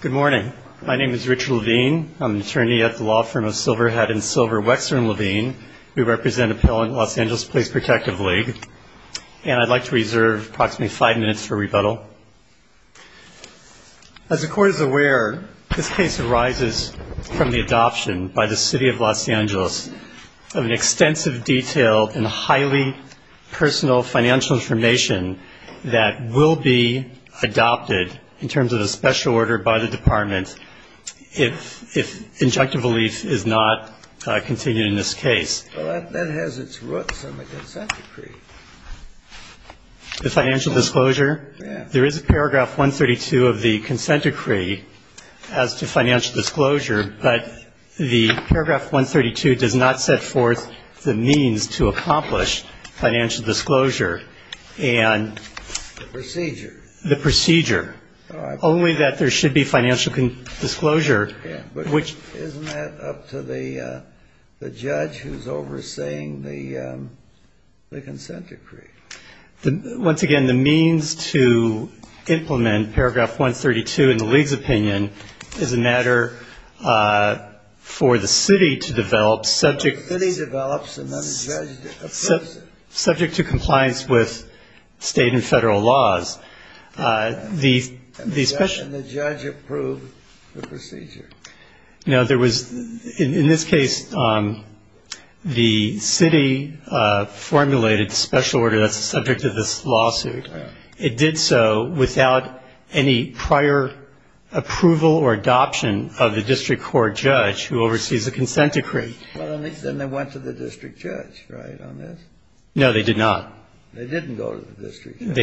Good morning. My name is Richard Levine. I'm an attorney at the law firm of Silverhat and Silver Wexner and Levine. We represent Appellant Los Angeles Police Protective League, and I'd like to reserve approximately five minutes for rebuttal. As the Court is aware, this case arises from the adoption by the City of Los Angeles of an extensive, detailed, and highly personal financial information that will be adopted in terms of a special order by the Department if injunctive relief is not continued in this case. Well, that has its roots in the consent decree. The financial disclosure? Yes. There is a paragraph 132 of the consent decree as to financial disclosure, but the paragraph 132 does not set forth the means to accomplish financial disclosure and the procedure, only that there should be financial disclosure. Isn't that up to the judge who's overseeing the consent decree? Once again, the means to implement paragraph 132 in the League's opinion is a matter for the city to develop subject to compliance with state and federal laws. And the judge approved the procedure. No, there was ñ in this case, the city formulated a special order that's subject to this lawsuit. It did so without any prior approval or adoption of the district court judge who oversees the consent decree. Well, then they went to the district judge, right, on this? No, they did not. They didn't go to the district judge.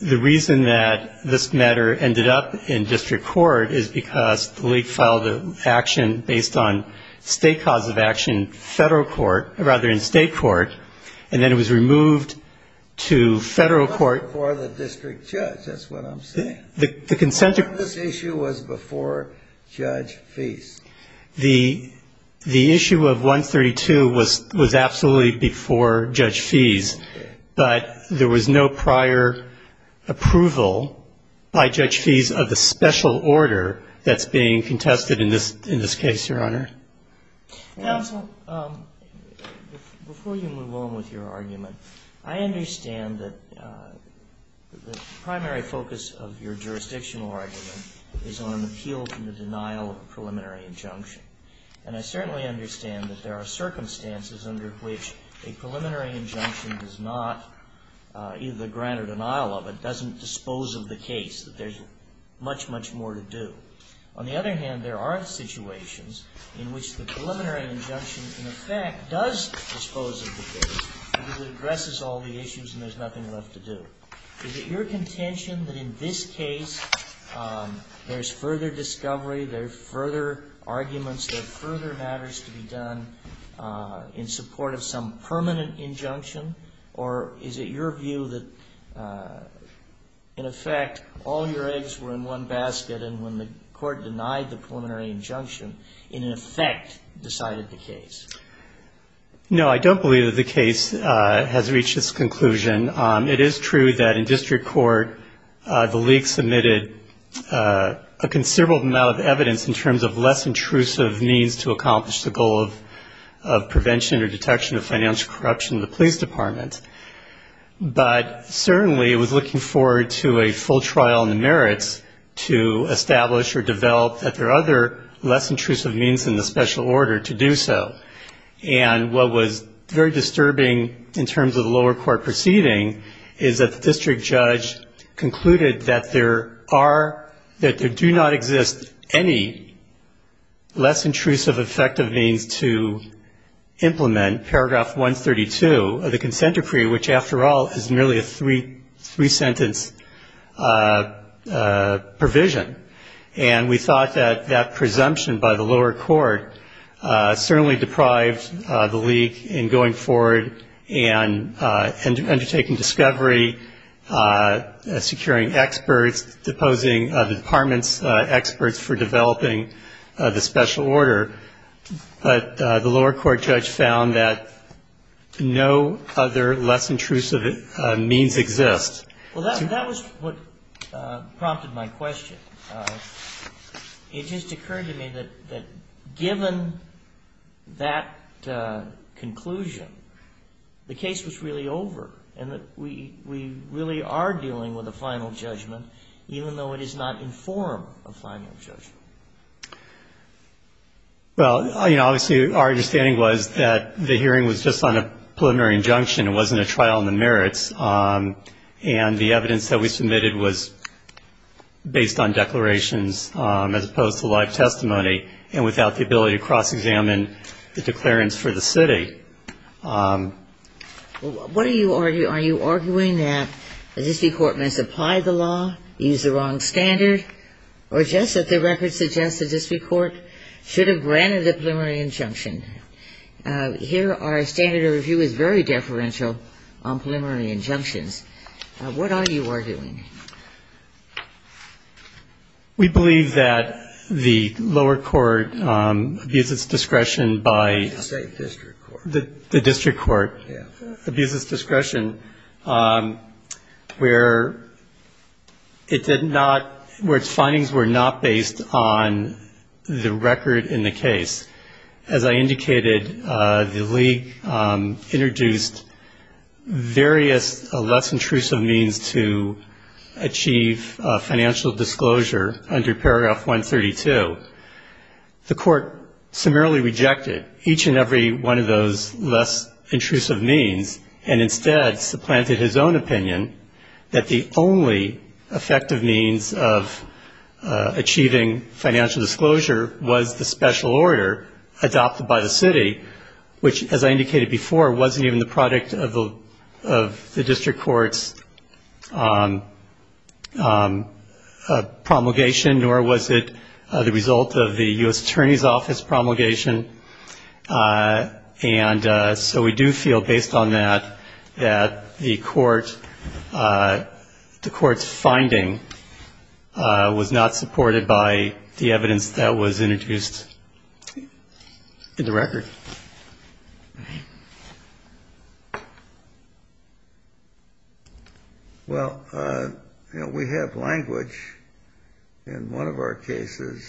The reason that this matter ended up in district court is because the League filed an action based on state cause of action in federal court, or rather in state court, and then it was removed to federal court. Not before the district judge, that's what I'm saying. The consent decree. Part of this issue was before Judge Feese. The issue of 132 was absolutely before Judge Feese, but there was no prior approval by Judge Feese of the special order that's being contested in this case, Your Honor. Counsel, before you move on with your argument, I understand that the primary focus of your jurisdictional argument is on an appeal from the denial of a preliminary injunction, and I certainly understand that there are circumstances under which a preliminary injunction does not either grant or denial of it, doesn't dispose of the case, that there's much, much more to do. On the other hand, there are situations in which the preliminary injunction, in effect, does dispose of the case because it addresses all the issues and there's nothing left to do. Is it your contention that in this case there's further discovery, there's further arguments, there are further matters to be done in support of some permanent injunction, or is it your view that, in effect, all your eggs were in one basket and when the court denied the preliminary injunction, it, in effect, decided the case? No, I don't believe that the case has reached its conclusion. It is true that in district court the league submitted a considerable amount of evidence in terms of less intrusive means to accomplish the goal of prevention or detection of financial corruption. The police department. But certainly it was looking forward to a full trial in the merits to establish or develop that there are other less intrusive means in the special order to do so. And what was very disturbing in terms of the lower court proceeding is that the district judge concluded that there are, that there do not exist any less intrusive effective means to implement paragraph 132 of the consent decree, which, after all, is merely a three-sentence provision. And we thought that that presumption by the lower court certainly deprived the league in going forward and undertaking discovery, securing experts, deposing the department's experts for developing the special order. But the lower court judge found that no other less intrusive means exist. Well, that was what prompted my question. It just occurred to me that given that conclusion, the case was really over, and that we really are dealing with a final judgment, even though it is not in form of final judgment. Well, you know, obviously our understanding was that the hearing was just on a preliminary injunction. It wasn't a trial in the merits. And the evidence that we submitted was based on declarations as opposed to live testimony and without the ability to cross-examine the declarants for the city. What are you arguing? Are you arguing that the district court must apply the law, use the wrong standard, or just that the record suggests the district court should have granted a preliminary injunction? Here our standard of review is very deferential on preliminary injunctions. What are you arguing? We believe that the lower court views its discretion by the state district court. The district court views its discretion where it did not, where its findings were not based on the record in the case. As I indicated, the league introduced various less intrusive means to achieve financial disclosure under Paragraph 132. The court summarily rejected each and every one of those less intrusive means and instead supplanted his own opinion that the only effective means of achieving financial disclosure was the special order adopted by the city, which, as I indicated before, wasn't even the product of the district court's promulgation, nor was it the result of the U.S. Attorney's Office promulgation. And so we do feel, based on that, that the court's finding was not supported by the evidence that was introduced in the record. Well, you know, we have language in one of our cases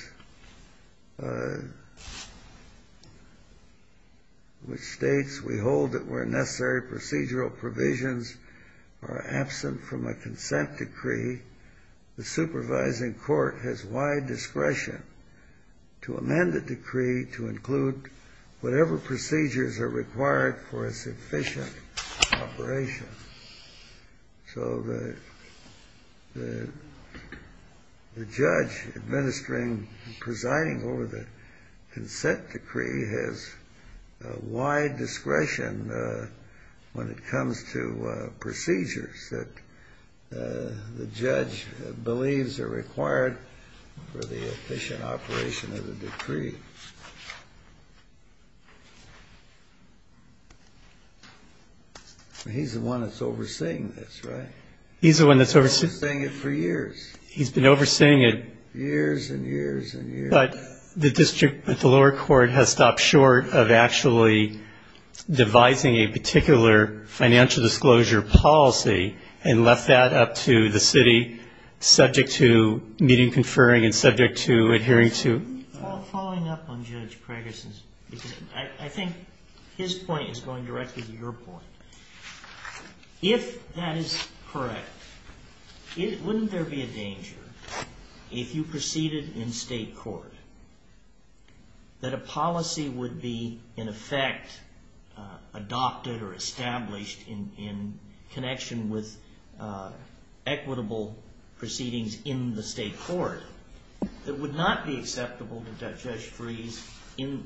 which states, we hold that where necessary procedural provisions are absent from a consent decree, the supervising court has wide discretion to amend the decree to include whatever procedures are required for a sufficient operation. So the judge administering and presiding over the consent decree has wide discretion when it comes to procedures that the judge believes are required for the efficient operation of the decree. He's the one that's overseeing this, right? He's the one that's overseeing it for years. He's been overseeing it. Years and years and years. But the lower court has stopped short of actually devising a particular financial disclosure policy and left that up to the city, subject to meeting, conferring, and subject to adhering to. Following up on Judge Craigerson's, because I think his point is going directly to your point. If that is correct, wouldn't there be a danger, if you proceeded in state court, that a policy would be, in effect, adopted or established in connection with equitable proceedings in the state court that would not be acceptable to Judge Freese in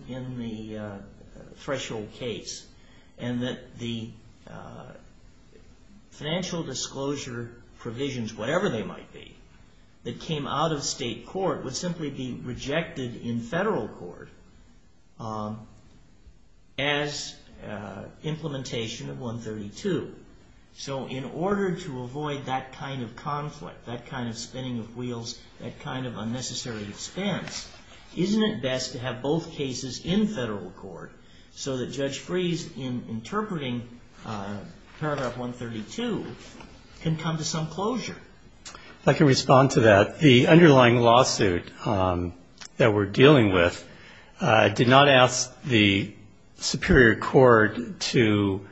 the threshold case, and that the financial disclosure provisions, whatever they might be, that came out of state court would simply be rejected in federal court as implementation of 132. So in order to avoid that kind of conflict, that kind of spinning of wheels, that kind of unnecessary expense, isn't it best to have both cases in federal court so that Judge Freese, in interpreting paragraph 132, can come to some closure? If I can respond to that. The underlying lawsuit that we're dealing with did not ask the Superior Court to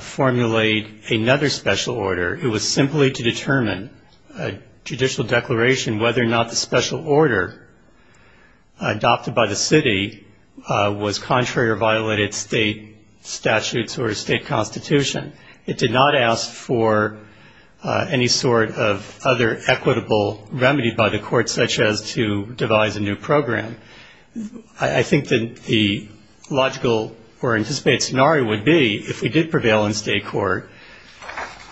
formulate another special order. It was simply to determine, a judicial declaration, whether or not the special order adopted by the city was contrary or violated state statutes or a state constitution. It did not ask for any sort of other equitable remedy by the court, such as to devise a new program. I think that the logical or anticipated scenario would be, if we did prevail in state court,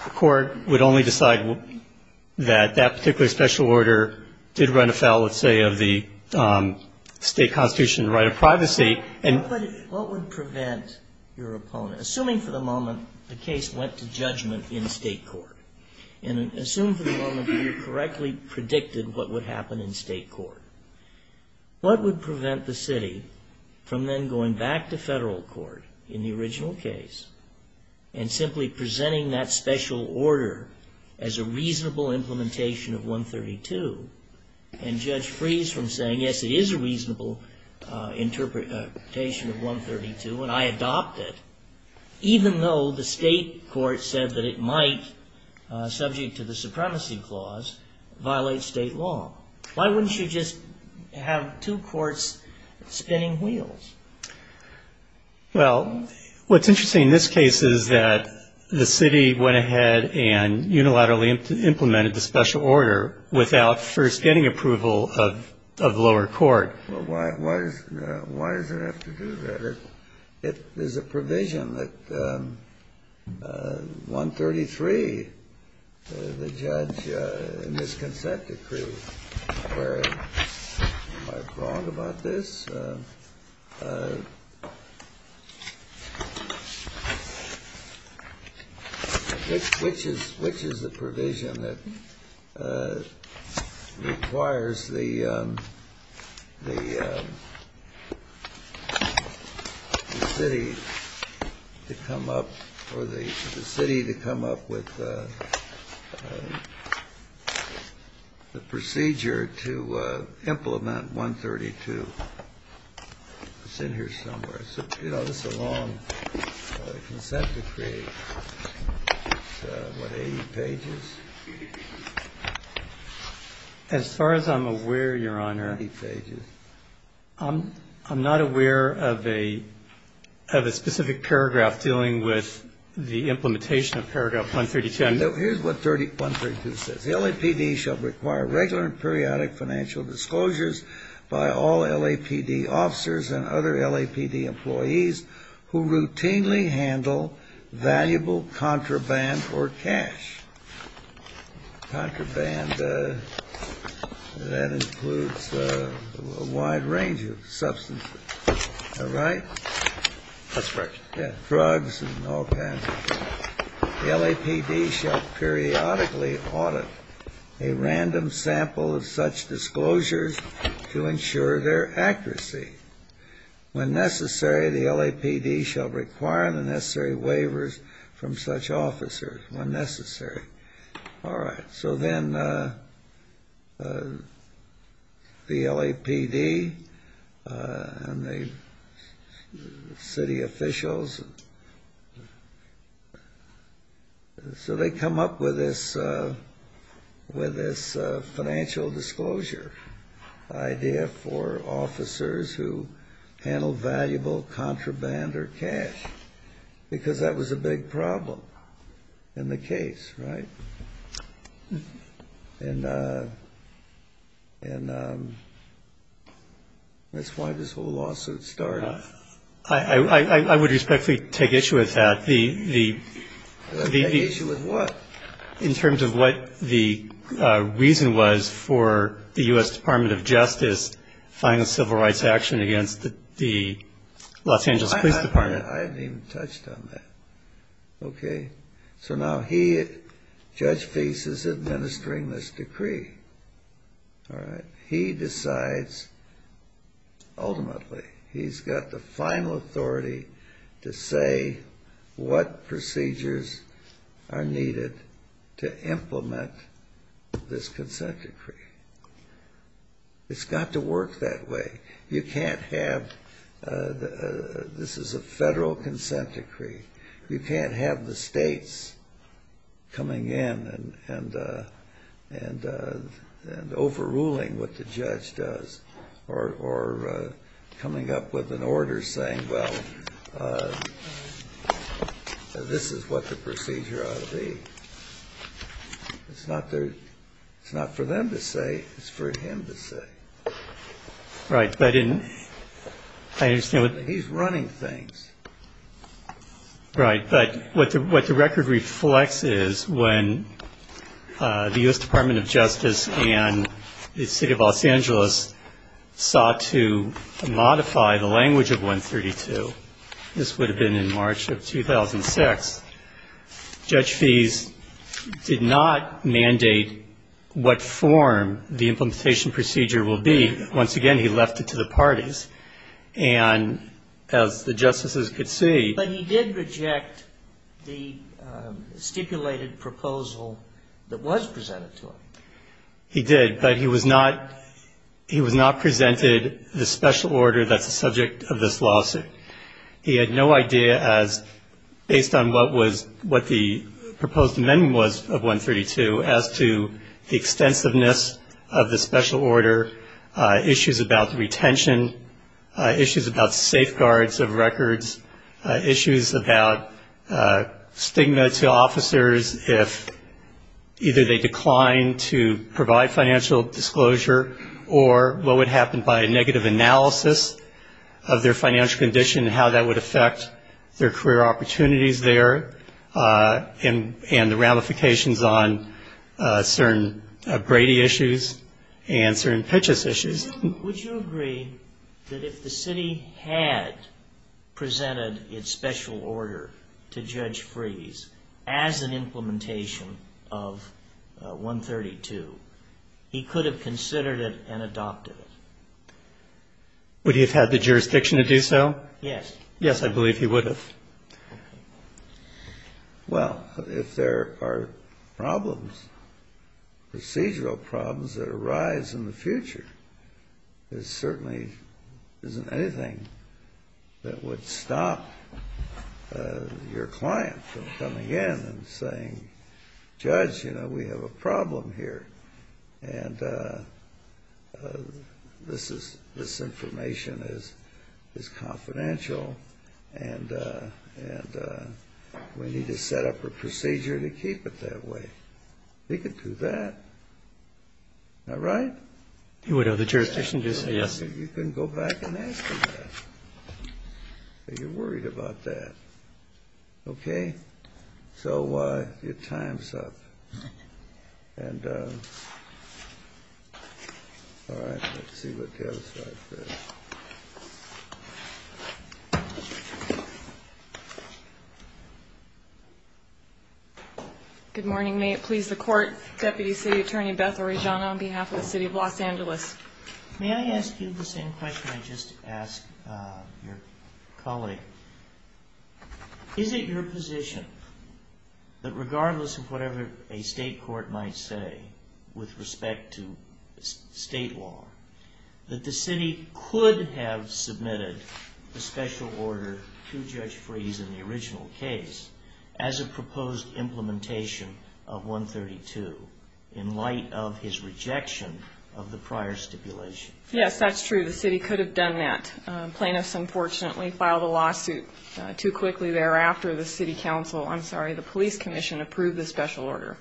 the court would only decide that that particular special order did run afoul, let's say, of the state constitution right of privacy. What would prevent your opponent, assuming for the moment the case went to judgment in state court, and assume for the moment you correctly predicted what would happen in state court, what would prevent the city from then going back to federal court in the original case and simply presenting that special order as a reasonable implementation of 132, and Judge Freese from saying, yes, it is a reasonable interpretation of 132, and I adopt it, even though the state court said that it might, subject to the supremacy clause, violate state law? Why wouldn't you just have two courts spinning wheels? Well, what's interesting in this case is that the city went ahead and unilaterally implemented the special order without first getting approval of lower court. Well, why does it have to do that? It is a provision that 133, the judge in this consent decree, where am I wrong about this? Which is the provision that requires the city to come up or the city to come up with the procedure to implement 132. It's in here somewhere. You know, this is a long consent decree. It's what, 80 pages? As far as I'm aware, Your Honor, I'm not aware of a specific paragraph dealing with the implementation of paragraph 132. Here's what 132 says. The LAPD shall require regular and periodic financial disclosures by all LAPD officers and other LAPD employees who routinely handle valuable contraband or cash. Contraband, that includes a wide range of substances. All right? That's right. Yeah, drugs and all kinds of things. The LAPD shall periodically audit a random sample of such disclosures to ensure their accuracy. When necessary, the LAPD shall require the necessary waivers from such officers when necessary. All right. So then the LAPD and the city officials, so they come up with this financial disclosure idea for officers who handle valuable contraband or cash, because that was a big problem in the case, right? And that's why this whole lawsuit started. I would respectfully take issue with that. Take issue with what? In terms of what the reason was for the U.S. Department of Justice filing a civil rights action against the Los Angeles Police Department. I haven't even touched on that. Okay. So now he, Judge Fease, is administering this decree. All right. He decides, ultimately, he's got the final authority to say what procedures are needed to implement this consent decree. It's got to work that way. You can't have, this is a federal consent decree. You can't have the states coming in and overruling what the judge does or coming up with an order saying, well, this is what the procedure ought to be. It's not for them to say. It's for him to say. Right. He's running things. Right. But what the record reflects is when the U.S. Department of Justice and the city of Los Angeles sought to modify the language of 132. This would have been in March of 2006. Judge Fease did not mandate what form the implementation procedure will be. Once again, he left it to the parties. And as the justices could see. But he did reject the stipulated proposal that was presented to him. He did. But he was not presented the special order that's the subject of this lawsuit. He had no idea as, based on what the proposed amendment was of 132, as to the extensiveness of the special order, issues about the retention, issues about safeguards of records, issues about stigma to officers if either they declined to provide financial disclosure or what would happen by a negative analysis of their financial condition and how that would affect their career opportunities there and the ramifications on certain Brady issues and certain Pitchess issues. Would you agree that if the city had presented its special order to Judge Fease as an implementation of 132, he could have considered it and adopted it? Would he have had the jurisdiction to do so? Yes. Yes, I believe he would have. Well, if there are problems, procedural problems that arise in the future, there certainly isn't anything that would stop your client from coming in and saying, Judge, you know, we have a problem here, and this information is confidential, and we need to set up a procedure to keep it that way. He could do that. All right? He would have the jurisdiction to say yes. You can go back and ask him that if you're worried about that. Okay? Okay? So your time's up. And all right, let's see what the other side says. Good morning. May it please the Court, Deputy City Attorney Beth Orejana on behalf of the City of Los Angeles. May I ask you the same question I just asked your colleague? Is it your position that regardless of whatever a state court might say with respect to state law, that the city could have submitted a special order to Judge Freese in the original case as a proposed implementation of 132 in light of his rejection of the prior stipulation? Yes, that's true. The city could have done that. Plaintiffs, unfortunately, filed a lawsuit too quickly thereafter. The City Council, I'm sorry, the Police Commission approved the special order.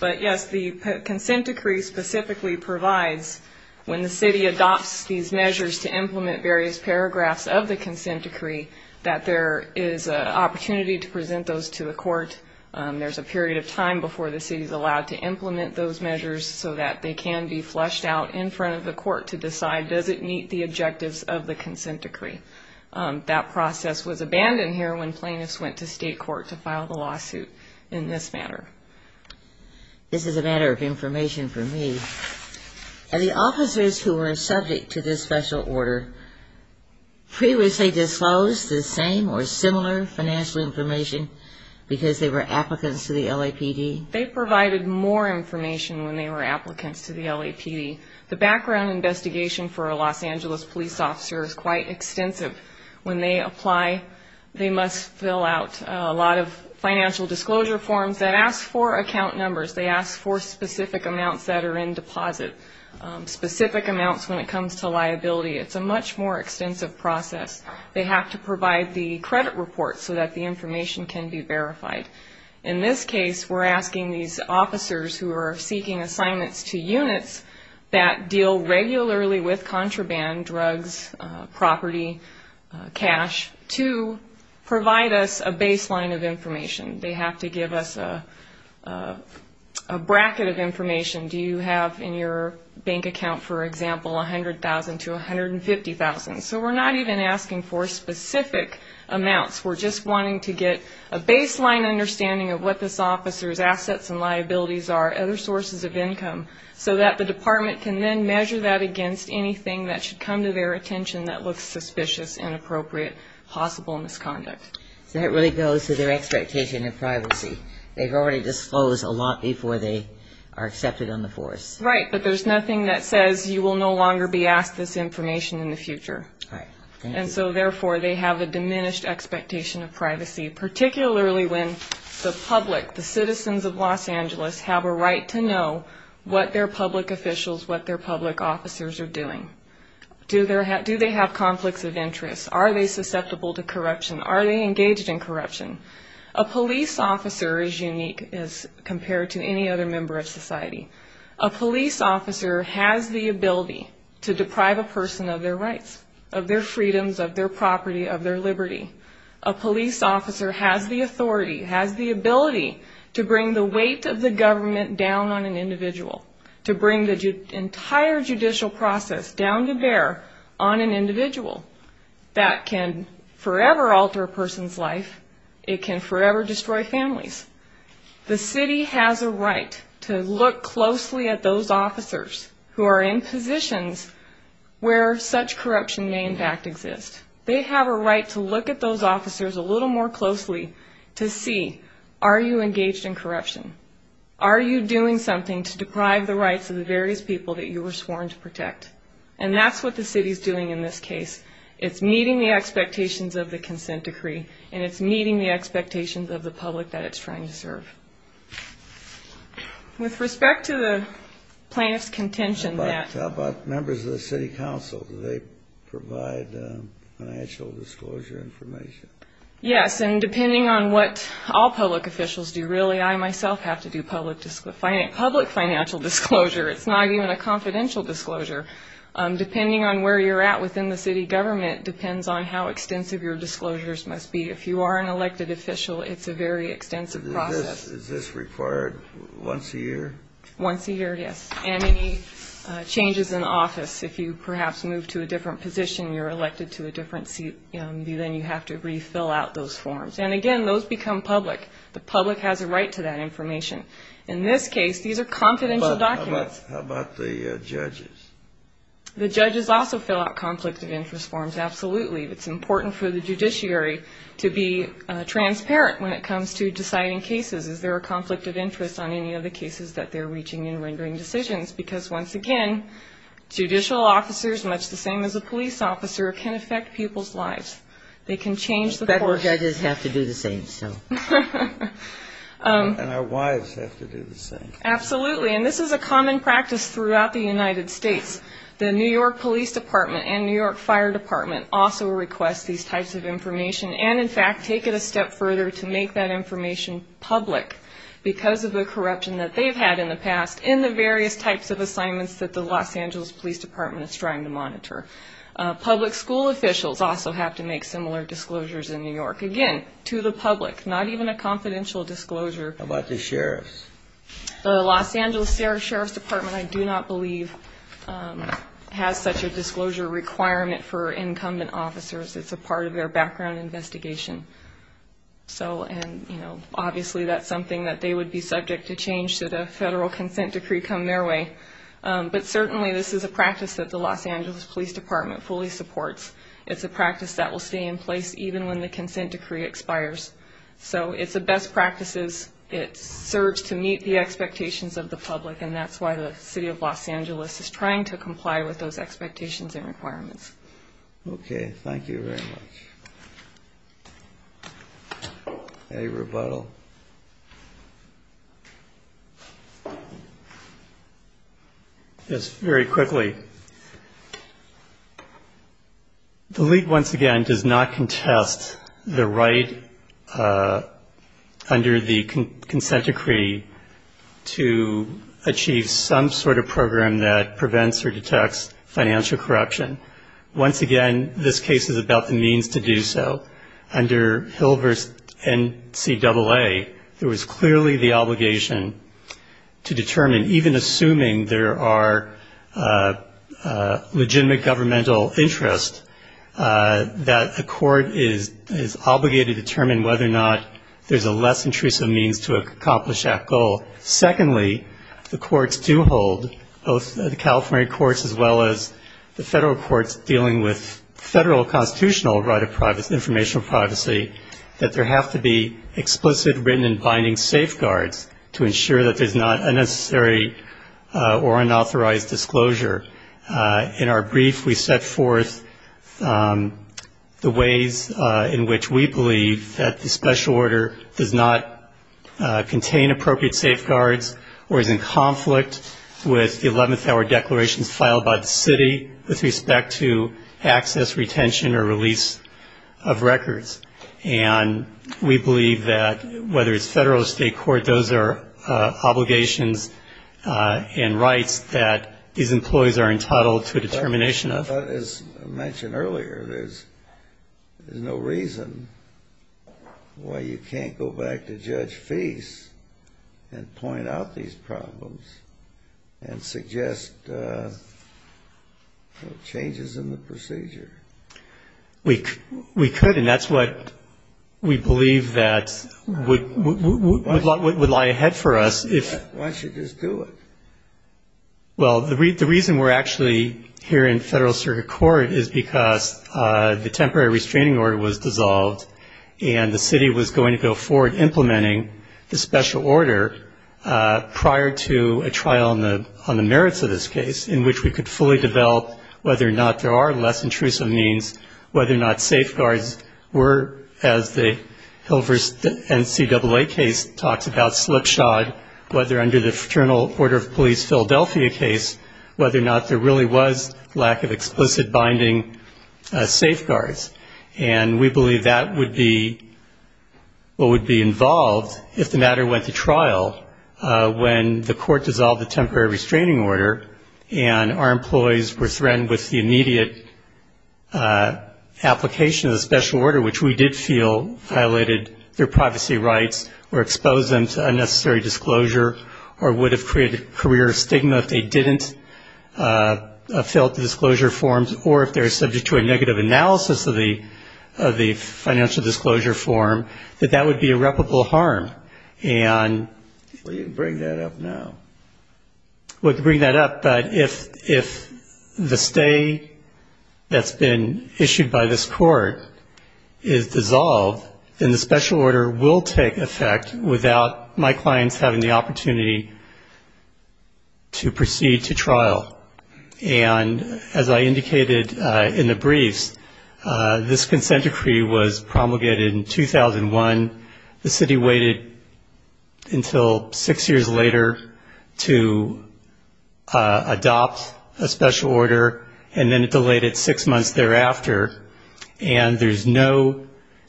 But, yes, the consent decree specifically provides when the city adopts these measures to implement various paragraphs of the consent decree, that there is an opportunity to present those to the court. There's a period of time before the city is allowed to implement those measures so that they can be flushed out in front of the court to decide, does it meet the objectives of the consent decree? That process was abandoned here when plaintiffs went to state court to file the lawsuit in this matter. This is a matter of information for me. Are the officers who were subject to this special order previously disclosed the same or similar financial information because they were applicants to the LAPD? They provided more information when they were applicants to the LAPD. The background investigation for a Los Angeles police officer is quite extensive. When they apply, they must fill out a lot of financial disclosure forms that ask for account numbers. They ask for specific amounts that are in deposit, specific amounts when it comes to liability. It's a much more extensive process. They have to provide the credit report so that the information can be verified. In this case, we're asking these officers who are seeking assignments to units that deal regularly with contraband, drugs, property, cash, to provide us a baseline of information. They have to give us a bracket of information. Do you have in your bank account, for example, $100,000 to $150,000? So we're not even asking for specific amounts. We're just wanting to get a baseline understanding of what this officer's assets and liabilities are, other sources of income, so that the department can then measure that against anything that should come to their attention that looks suspicious, inappropriate, possible misconduct. So that really goes to their expectation of privacy. They've already disclosed a lot before they are accepted on the force. Right, but there's nothing that says you will no longer be asked this information in the future. Right. And so, therefore, they have a diminished expectation of privacy, particularly when the public, the citizens of Los Angeles, have a right to know what their public officials, what their public officers are doing. Do they have conflicts of interest? Are they susceptible to corruption? Are they engaged in corruption? A police officer is unique as compared to any other member of society. A police officer has the ability to deprive a person of their rights, of their freedoms, of their property, of their liberty. A police officer has the authority, has the ability to bring the weight of the government down on an individual, to bring the entire judicial process down to bear on an individual. That can forever alter a person's life. It can forever destroy families. The city has a right to look closely at those officers who are in positions where such corruption may in fact exist. They have a right to look at those officers a little more closely to see, are you engaged in corruption? Are you doing something to deprive the rights of the various people that you were sworn to protect? And that's what the city is doing in this case. It's meeting the expectations of the consent decree, and it's meeting the expectations of the public that it's trying to serve. With respect to the plaintiff's contention that. How about members of the city council? Do they provide financial disclosure information? Yes, and depending on what all public officials do, really, I myself have to do public financial disclosure. It's not even a confidential disclosure. Depending on where you're at within the city government depends on how extensive your disclosures must be. If you are an elected official, it's a very extensive process. Is this required once a year? Once a year, yes, and any changes in office. If you perhaps move to a different position, you're elected to a different seat, then you have to refill out those forms. And again, those become public. The public has a right to that information. In this case, these are confidential documents. How about the judges? The judges also fill out conflict of interest forms, absolutely. It's important for the judiciary to be transparent when it comes to deciding cases. Is there a conflict of interest on any of the cases that they're reaching and rendering decisions? Because, once again, judicial officers, much the same as a police officer, can affect people's lives. They can change the course. Federal judges have to do the same, so. And our wives have to do the same. Absolutely, and this is a common practice throughout the United States. The New York Police Department and New York Fire Department also request these types of information and, in fact, take it a step further to make that information public because of the corruption that they've had in the past in the various types of assignments that the Los Angeles Police Department is trying to monitor. Public school officials also have to make similar disclosures in New York. Again, to the public, not even a confidential disclosure. How about the sheriffs? The Los Angeles Sheriff's Department, I do not believe, has such a disclosure requirement for incumbent officers. It's a part of their background investigation. So, and, you know, obviously that's something that they would be subject to change should a federal consent decree come their way. But, certainly, this is a practice that the Los Angeles Police Department fully supports. It's a practice that will stay in place even when the consent decree expires. So it's a best practices. It serves to meet the expectations of the public, and that's why the City of Los Angeles is trying to comply with those expectations and requirements. Okay, thank you very much. Any rebuttal? Yes, very quickly. The League, once again, does not contest the right under the consent decree to achieve some sort of program that prevents or detects financial corruption. Once again, this case is about the means to do so. Under Hill v. NCAA, there was clearly the obligation to determine, even assuming there are legitimate governmental interests, that the court is obligated to determine whether or not there's a less intrusive means to accomplish that goal. Secondly, the courts do hold, both the California courts as well as the federal courts, dealing with federal constitutional right of informational privacy, that there have to be explicit written and binding safeguards to ensure that there's not unnecessary or unauthorized disclosure. In our brief, we set forth the ways in which we believe that the special order does not contain appropriate safeguards, or is in conflict with the 11th hour declarations filed by the city with respect to access, retention, or release of records. And we believe that, whether it's federal or state court, those are obligations and rights that these employees are entitled to a determination of. As I mentioned earlier, there's no reason why you can't go back to Judge Fease and point out these problems and suggest changes in the procedure. We could, and that's what we believe that would lie ahead for us. Why don't you just do it? Well, the reason we're actually here in Federal Circuit Court is because the temporary restraining order was dissolved, and the city was going to go forward implementing the special order prior to a trial on the merits of this case, in which we could fully develop whether or not there are less intrusive means, whether or not safeguards were, as the Hilvers NCAA case talks about, slipshod, whether under the Fraternal Order of Police Philadelphia case, whether or not there really was lack of explicit binding safeguards. And we believe that would be what would be involved if the matter went to trial, when the court dissolved the temporary restraining order, and our employees were threatened with the immediate application of the special order, which we did feel violated their privacy rights or exposed them to unnecessary disclosure or would have created career stigma if they didn't fill out the disclosure forms or if they're subject to a negative analysis of the financial disclosure form, that that would be irreparable harm. And if the stay that's been issued by this court is dissolved, then the special order will take effect without my clients having the opportunity to proceed to trial. And as I indicated in the briefs, this consent decree was promulgated in 2001. The city waited until six years later to adopt a special order, and then it delayed it six months thereafter, and there's no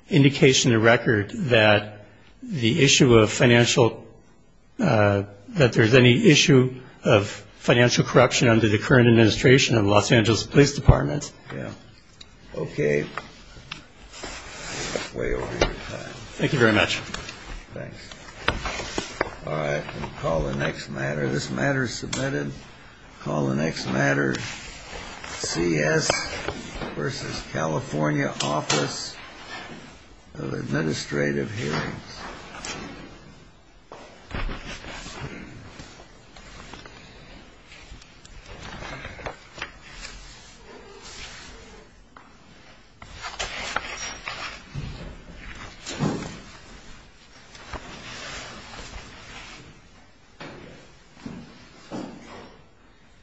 indication in the record that the issue of financial, that there's any issue of financial corruption under the current administration of the Los Angeles Police Department. Thank you very much. All right. We'll call the next matter. This matter is submitted. Call the next matter, CS versus California Office of Administrative Hearings. Thank you.